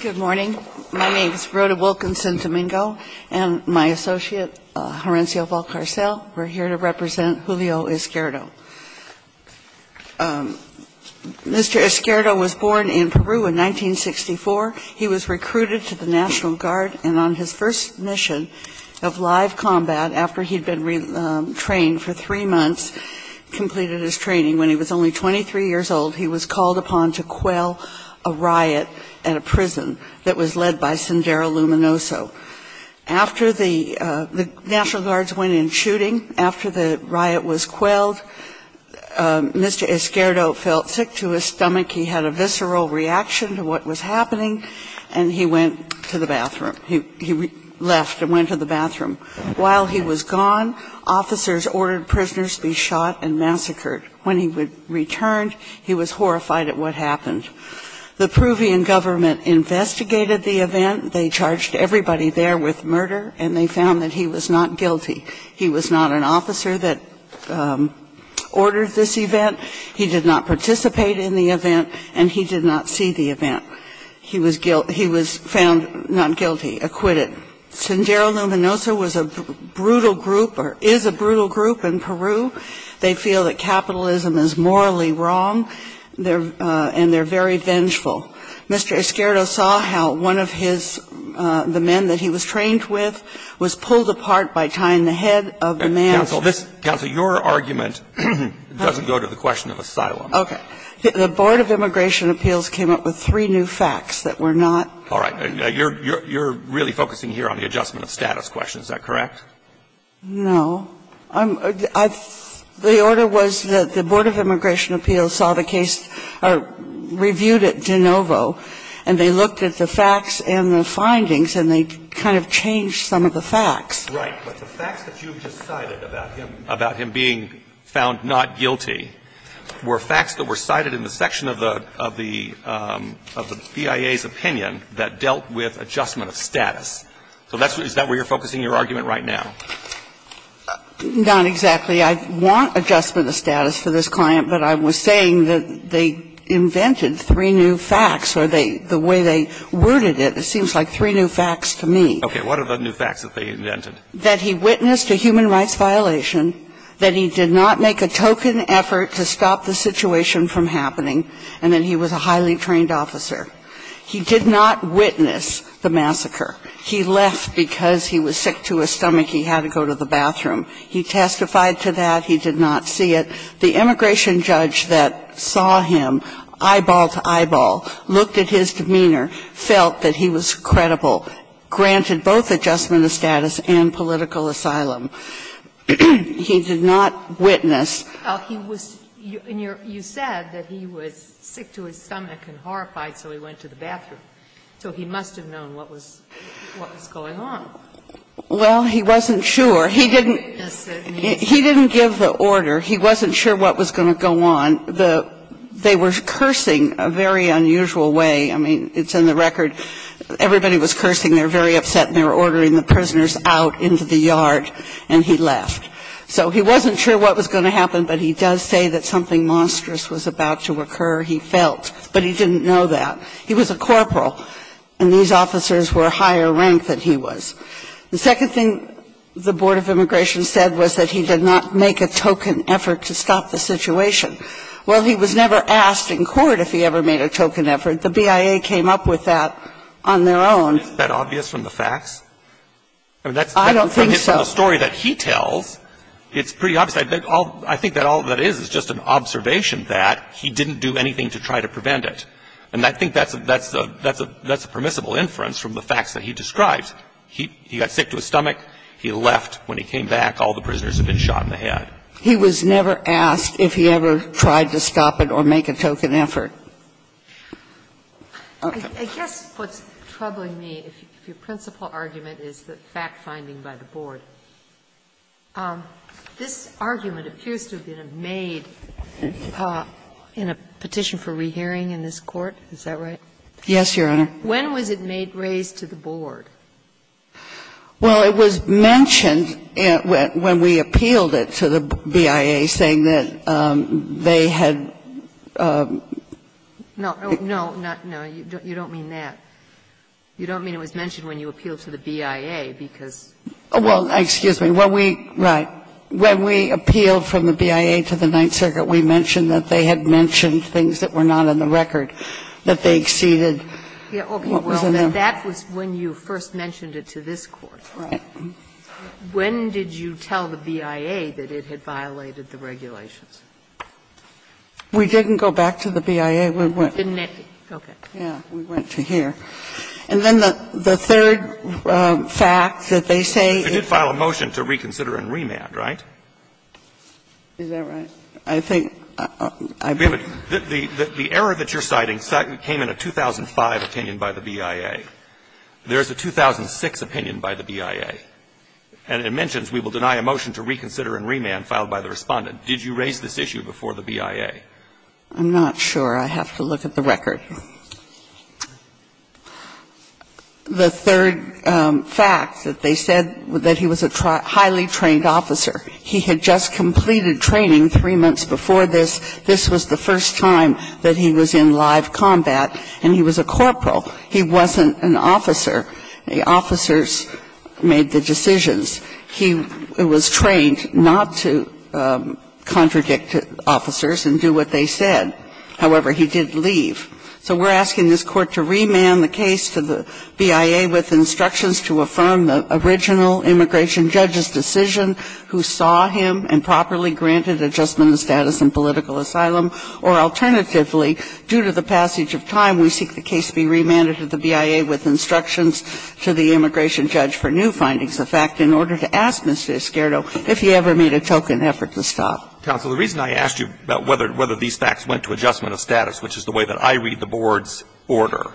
Good morning. My name is Rhoda Wilkinson-Domingo, and my associate, Horencio Valcarcel, we're here to represent Julio Izquierdo. Mr. Izquierdo was born in Peru in 1964. He was recruited to the National Guard, and on his first mission of live combat, after he'd been trained for three months, completed his training when he was only 23 years old, he was called upon to quell a riot at a prison that was led by Sendero Luminoso. After the National Guards went in shooting, after the riot was quelled, Mr. Izquierdo felt sick to his stomach. He had a visceral reaction to what was happening, and he went to the bathroom. He left and went to the bathroom. While he was gone, officers ordered prisoners to be shot and massacred. When he returned, he was horrified at what happened. The Peruvian government investigated the event. They charged everybody there with murder, and they found that he was not guilty. He was not an officer that ordered this event. He did not participate in the event, and he did not see the event. He was found not guilty, acquitted. Sendero Luminoso was a brutal group or is a brutal group in Peru. They feel that capitalism is morally wrong, and they're very vengeful. Mr. Izquierdo saw how one of his, the men that he was trained with, was pulled apart by tying the head of the man. Counsel, your argument doesn't go to the question of asylum. Okay. The Board of Immigration Appeals came up with three new facts that were not. All right. You're really focusing here on the adjustment of status question. Is that correct? No. The order was that the Board of Immigration Appeals saw the case, or reviewed it de novo, and they looked at the facts and the findings, and they kind of changed some of the facts. Right. But the facts that you just cited about him being found not guilty were facts that were cited in the section of the BIA's opinion that dealt with adjustment of status. So is that where you're focusing your argument right now? Not exactly. I want adjustment of status for this client, but I was saying that they invented three new facts, or the way they worded it, it seems like three new facts to me. Okay. What are the new facts that they invented? That he witnessed a human rights violation, that he did not make a token effort to stop the situation from happening, and that he was a highly trained officer. He did not witness the massacre. He left because he was sick to his stomach. He had to go to the bathroom. He testified to that. He did not see it. The immigration judge that saw him eyeball to eyeball, looked at his demeanor, felt that he was credible, granted both adjustment of status and political asylum. He did not witness. He was you said that he was sick to his stomach and horrified, so he went to the bathroom. So he must have known what was going on. Well, he wasn't sure. He didn't give the order. He wasn't sure what was going to go on. They were cursing a very unusual way. I mean, it's in the record. Everybody was cursing. They were very upset and they were ordering the prisoners out into the yard and he left. So he wasn't sure what was going to happen, but he does say that something monstrous was about to occur, he felt, but he didn't know that. He was a corporal and these officers were higher rank than he was. The second thing the Board of Immigration said was that he did not make a token effort to stop the situation. Well, he was never asked in court if he ever made a token effort. The BIA came up with that on their own. Isn't that obvious from the facts? I don't think so. From the story that he tells, it's pretty obvious. I think that all that is is just an observation that he didn't do anything to try to I think that's a permissible inference from the facts that he describes. He got sick to his stomach. He left. When he came back, all the prisoners had been shot in the head. He was never asked if he ever tried to stop it or make a token effort. I guess what's troubling me, if your principal argument is the fact finding by the Board, this argument appears to have been made in a petition for rehearing in this case. Yes, Your Honor. When was it made raised to the Board? Well, it was mentioned when we appealed it to the BIA, saying that they had No, no, no. You don't mean that. You don't mean it was mentioned when you appealed to the BIA, because Well, excuse me. When we, right, when we appealed from the BIA to the Ninth Circuit, we mentioned that they had mentioned things that were not in the record, that they exceeded what was in there. Well, that was when you first mentioned it to this Court. Right. When did you tell the BIA that it had violated the regulations? We didn't go back to the BIA. We went to here. And then the third fact that they say is You did file a motion to reconsider and remand, right? Is that right? I think The error that you're citing came in a 2005 opinion by the BIA. There's a 2006 opinion by the BIA. And it mentions we will deny a motion to reconsider and remand filed by the Respondent. Did you raise this issue before the BIA? I'm not sure. I have to look at the record. The third fact that they said that he was a highly trained officer. He had just completed training three months before this. This was the first time that he was in live combat. And he was a corporal. He wasn't an officer. The officers made the decisions. He was trained not to contradict officers and do what they said. However, he did leave. So we're asking this Court to remand the case to the BIA with instructions to affirm the original immigration judge's decision, who saw him and properly granted adjustment of status in political asylum, or alternatively, due to the passage of time, we seek the case be remanded to the BIA with instructions to the immigration judge for new findings of fact in order to ask Mr. Esquerdo if he ever made a token effort to stop. Counsel, the reason I asked you about whether these facts went to adjustment of status, which is the way that I read the Board's order,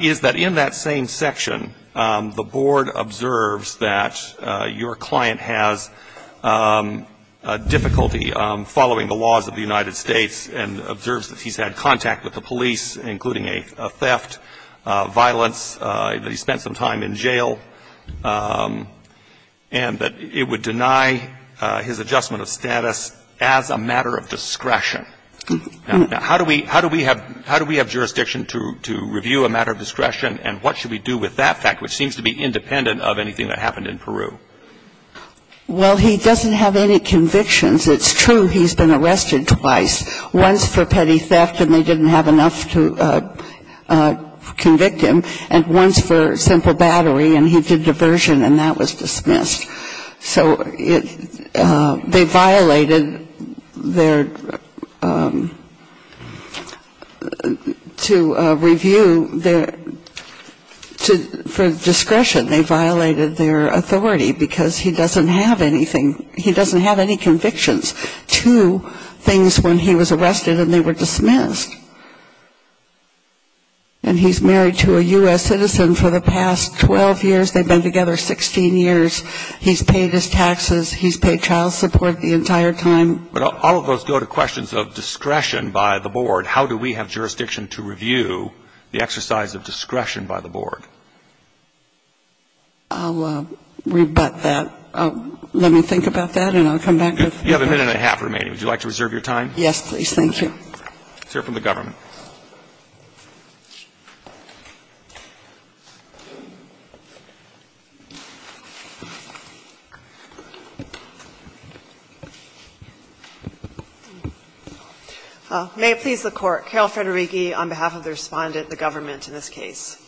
is that in that same section, the Board observes that your client has difficulty following the laws of the United States and observes that he's had contact with the police, including a theft, violence, that he spent some time in jail, and that it would deny his adjustment of status as a matter of discretion. Now, how do we have jurisdiction to review a matter of discretion, and what should we do with that fact, which seems to be independent of anything that happened in Peru? Well, he doesn't have any convictions. It's true he's been arrested twice, once for petty theft and they didn't have enough to convict him, and once for simple battery, and he did diversion and that was dismissed. So they violated their to review their for discretion, they violated their authority, because he doesn't have anything, he doesn't have any convictions to things when he was arrested and they were dismissed. And he's married to a U.S. citizen for the past 12 years, they've been together 16 years, he's paid his taxes, he's paid child support the entire time. But all of those go to questions of discretion by the board. How do we have jurisdiction to review the exercise of discretion by the board? I'll rebut that. Let me think about that and I'll come back to it. You have a minute and a half remaining. Would you like to reserve your time? Yes, please. It's here from the government. May it please the Court. Carol Federighi on behalf of the Respondent, the government, in this case.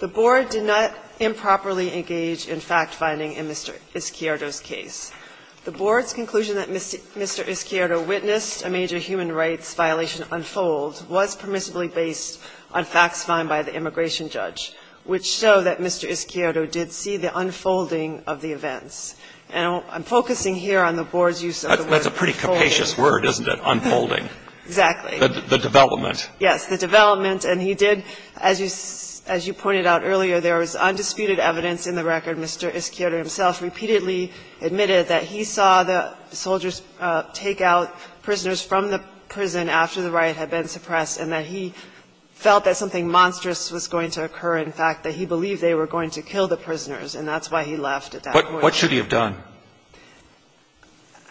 The board did not improperly engage in fact-finding in Mr. Ischiardo's case. The board's conclusion that Mr. Ischiardo witnessed a major human rights violation unfold was permissibly based on facts found by the immigration judge, which show that Mr. Ischiardo did see the unfolding of the events. And I'm focusing here on the board's use of the word unfolding. That's a pretty capacious word, isn't it, unfolding? Exactly. The development. Yes, the development. And he did, as you pointed out earlier, there was undisputed evidence in the record. Mr. Ischiardo himself repeatedly admitted that he saw the soldiers take out prisoners from the prison after the riot had been suppressed and that he felt that something monstrous was going to occur, in fact, that he believed they were going to kill the prisoners, and that's why he left at that point. What should he have done?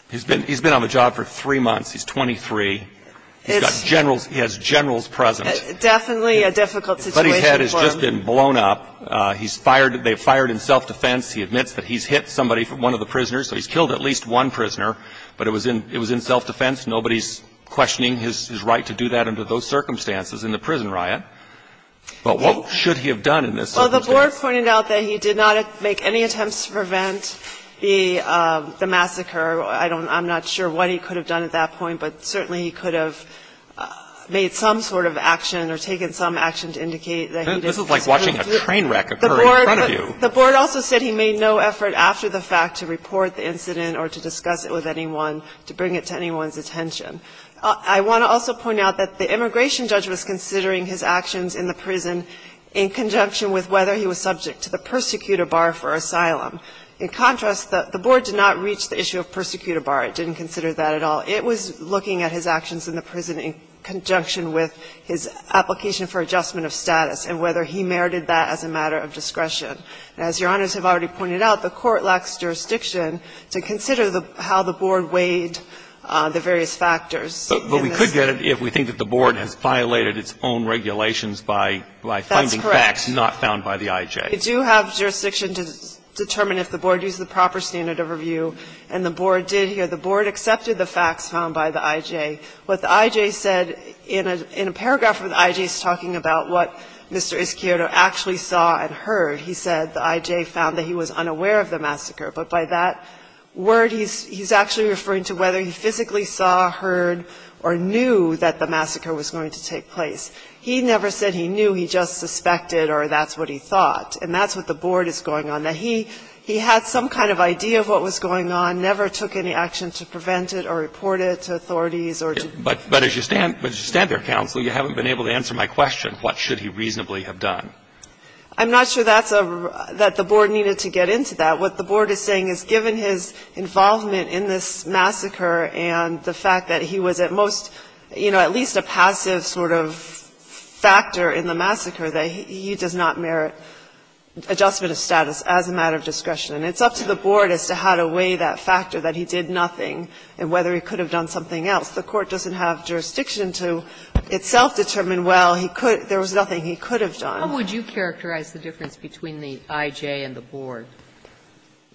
He's been on the job for three months. He's 23. He's got generals. He has generals present. Definitely a difficult situation for him. His buddy's head has just been blown up. He's fired. They've fired in self-defense. He admits that he's hit somebody, one of the prisoners, so he's killed at least one prisoner, but it was in self-defense. Nobody's questioning his right to do that under those circumstances in the prison riot. But what should he have done in this situation? Well, the board pointed out that he did not make any attempts to prevent the massacre. I don't know. I'm not sure what he could have done at that point, but certainly he could have made some sort of action or taken some action to indicate that he did. This is like watching a train wreck occur in front of you. The board also said he made no effort after the fact to report the incident or to discuss it with anyone, to bring it to anyone's attention. I want to also point out that the immigration judge was considering his actions in the prison in conjunction with whether he was subject to the persecutor bar for asylum. In contrast, the board did not reach the issue of persecutor bar. It didn't consider that at all. It was looking at his actions in the prison in conjunction with his application for adjustment of status and whether he merited that as a matter of discretion. And as Your Honors have already pointed out, the Court lacks jurisdiction to consider how the board weighed the various factors. But we could get it if we think that the board has violated its own regulations by finding facts not found by the I.J. That's correct. We do have jurisdiction to determine if the board used the proper standard of review. And the board did here. The board accepted the facts found by the I.J. What the I.J. said in a paragraph where the I.J. is talking about what Mr. Izquierdo actually saw and heard. He said the I.J. found that he was unaware of the massacre. But by that word, he's actually referring to whether he physically saw, heard, or knew that the massacre was going to take place. He never said he knew. He just suspected or that's what he thought. And that's what the board is going on. Now, he had some kind of idea of what was going on, never took any action to prevent it or report it to authorities or to. But as you stand there, counsel, you haven't been able to answer my question. What should he reasonably have done? I'm not sure that's a real question that the board needed to get into that. What the board is saying is given his involvement in this massacre and the fact that he was at most, you know, at least a passive sort of factor in the massacre, that he does not merit adjustment of status as a matter of discretion. It's up to the board as to how to weigh that factor, that he did nothing, and whether he could have done something else. The court doesn't have jurisdiction to itself determine, well, he could – there was nothing he could have done. Sotomayor, how would you characterize the difference between the I.J. and the board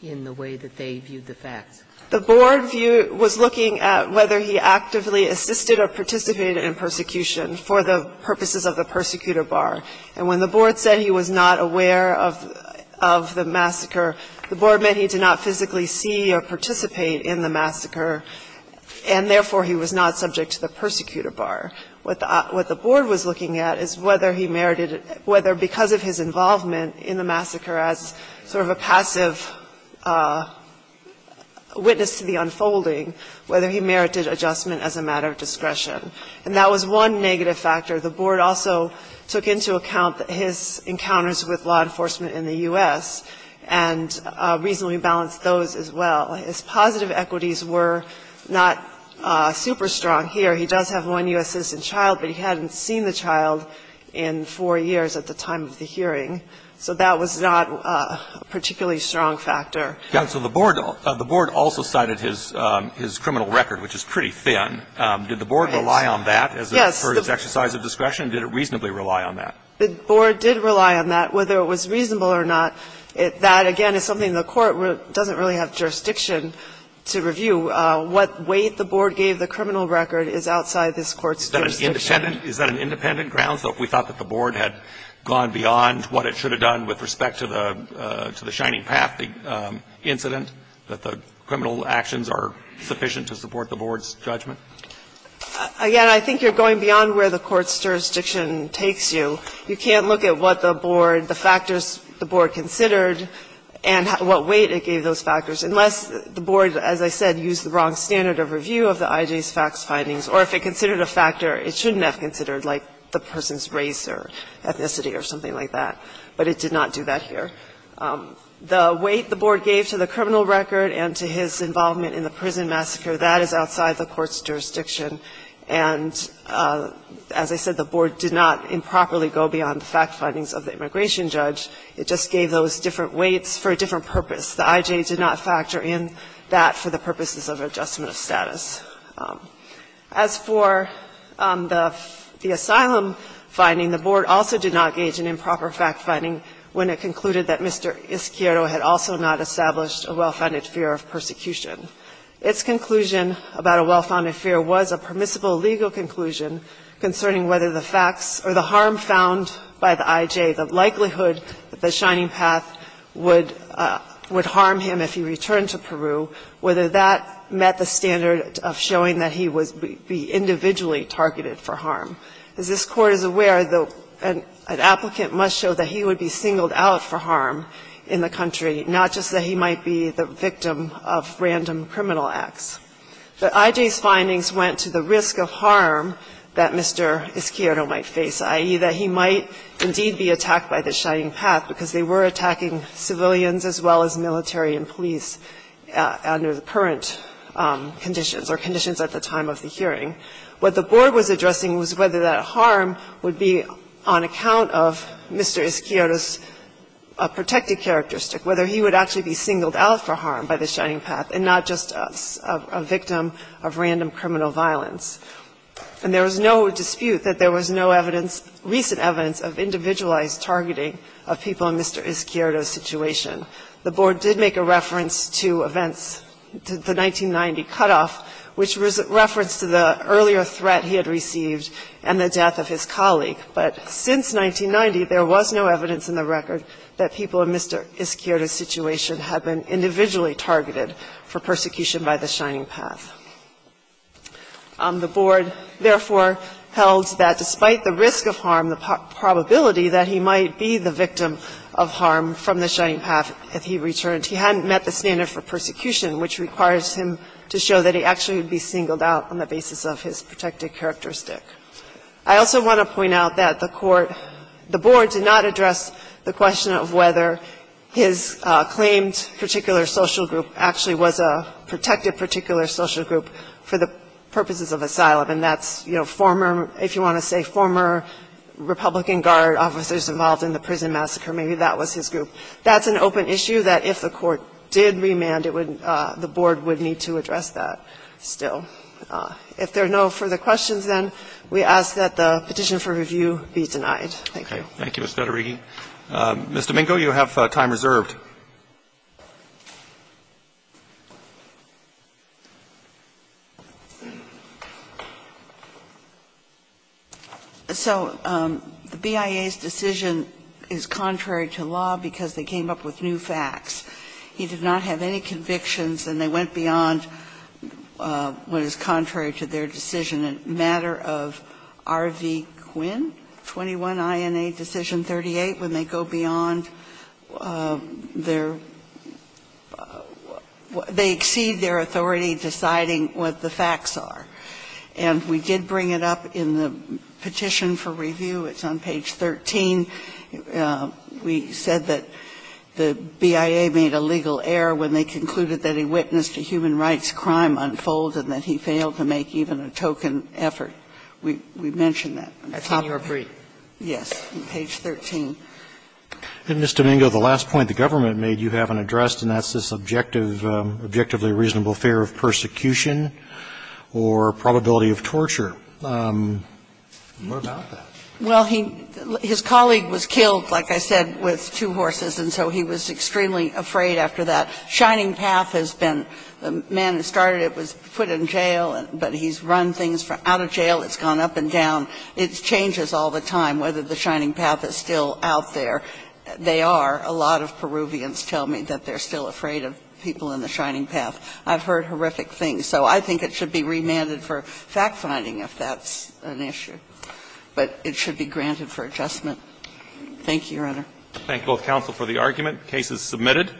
in the way that they viewed the facts? The board view – was looking at whether he actively assisted or participated in persecution for the purposes of the persecutor bar. And when the board said he was not aware of the massacre, the board meant he did not physically see or participate in the massacre, and therefore, he was not subject to the persecutor bar. What the board was looking at is whether he merited – whether because of his involvement in the massacre as sort of a passive witness to the unfolding, whether he merited adjustment as a matter of discretion. And that was one negative factor. The board also took into account his encounters with law enforcement in the U.S. and reasonably balanced those as well. His positive equities were not super strong here. He does have one U.S. citizen child, but he hadn't seen the child in four years at the time of the hearing. So that was not a particularly strong factor. So the board – the board also cited his criminal record, which is pretty thin. Did the board rely on that as a first exercise of discretion? Did it reasonably rely on that? The board did rely on that, whether it was reasonable or not. That, again, is something the court doesn't really have jurisdiction to review. What weight the board gave the criminal record is outside this Court's jurisdiction. Is that an independent ground? So if we thought that the board had gone beyond what it should have done with respect to the – to the Shining Path, the incident, that the criminal actions are sufficient to support the board's judgment? Again, I think you're going beyond where the court's jurisdiction takes you. You can't look at what the board – the factors the board considered and what weight it gave those factors, unless the board, as I said, used the wrong standard of review of the IJ's facts findings, or if it considered a factor it shouldn't have considered, like the person's race or ethnicity or something like that. But it did not do that here. The weight the board gave to the criminal record and to his involvement in the prison massacre, that is outside the court's jurisdiction. And as I said, the board did not improperly go beyond the fact findings of the immigration judge. It just gave those different weights for a different purpose. The IJ did not factor in that for the purposes of adjustment of status. As for the asylum finding, the board also did not gauge an improper fact finding when it concluded that Mr. Isquiero had also not established a well-founded fear of persecution. Its conclusion about a well-founded fear was a permissible legal conclusion concerning whether the facts or the harm found by the IJ, the likelihood that the Shining Path would harm him if he returned to Peru, whether that met the standard of showing that he would be individually targeted for harm. As this Court is aware, an applicant must show that he would be singled out for harm in the country, not just that he might be the victim of random criminal acts. The IJ's findings went to the risk of harm that Mr. Isquiero might face, i.e., that he might indeed be attacked by the Shining Path because they were attacking civilians as well as military and police under the current conditions or conditions at the time of the hearing. What the board was addressing was whether that harm would be on account of Mr. Isquiero's protected characteristic, whether he would actually be singled out for harm by the Shining Path and not just a victim of random criminal violence. And there was no dispute that there was no evidence, recent evidence of individualized targeting of people in Mr. Isquiero's situation. The board did make a reference to events, to the 1990 cutoff, which was a reference to the earlier threat he had received and the death of his colleague. But since 1990, there was no evidence in the record that people in Mr. Isquiero's situation had been individually targeted for persecution by the Shining Path. The board, therefore, held that despite the risk of harm, the probability that he might be the victim of harm from the Shining Path if he returned, he hadn't met the standard for persecution, which requires him to show that he actually would be singled out on the basis of his protected characteristic. I also want to point out that the court – the board did not address the question of whether his claimed particular social group actually was a protected particular social group for the purposes of asylum. And that's, you know, former – if you want to say former Republican Guard officers involved in the prison massacre, maybe that was his group. That's an open issue that if the court did remand, it would – the board would need to address that. Still, if there are no further questions, then, we ask that the petition for review be denied. Thank you. Roberts. Thank you, Ms. Federighi. Ms. Domingo, you have time reserved. So the BIA's decision is contrary to law because they came up with new facts. He did not have any convictions, and they went beyond what is contrary to their decision in a matter of R.V. Quinn, 21 INA Decision 38, when they go beyond their – they exceed their authority deciding what the facts are. And we did bring it up in the petition for review. It's on page 13. We said that the BIA made a legal error when they concluded that he witnessed a human rights crime unfold and that he failed to make even a token effort. We mentioned that. That's in your brief. Yes, on page 13. Ms. Domingo, the last point the government made you haven't addressed, and that's this objective – objectively reasonable fear of persecution or probability of torture. What about that? Well, he – his colleague was killed, like I said, with two horses, and so he was extremely afraid after that. Shining Path has been – the man who started it was put in jail, but he's run things from – out of jail. It's gone up and down. It changes all the time whether the Shining Path is still out there. They are. A lot of Peruvians tell me that they're still afraid of people in the Shining Path. I've heard horrific things. So I think it should be remanded for fact-finding if that's an issue. But it should be granted for adjustment. Thank you, Your Honor. Thank you, both counsel, for the argument. The case is submitted.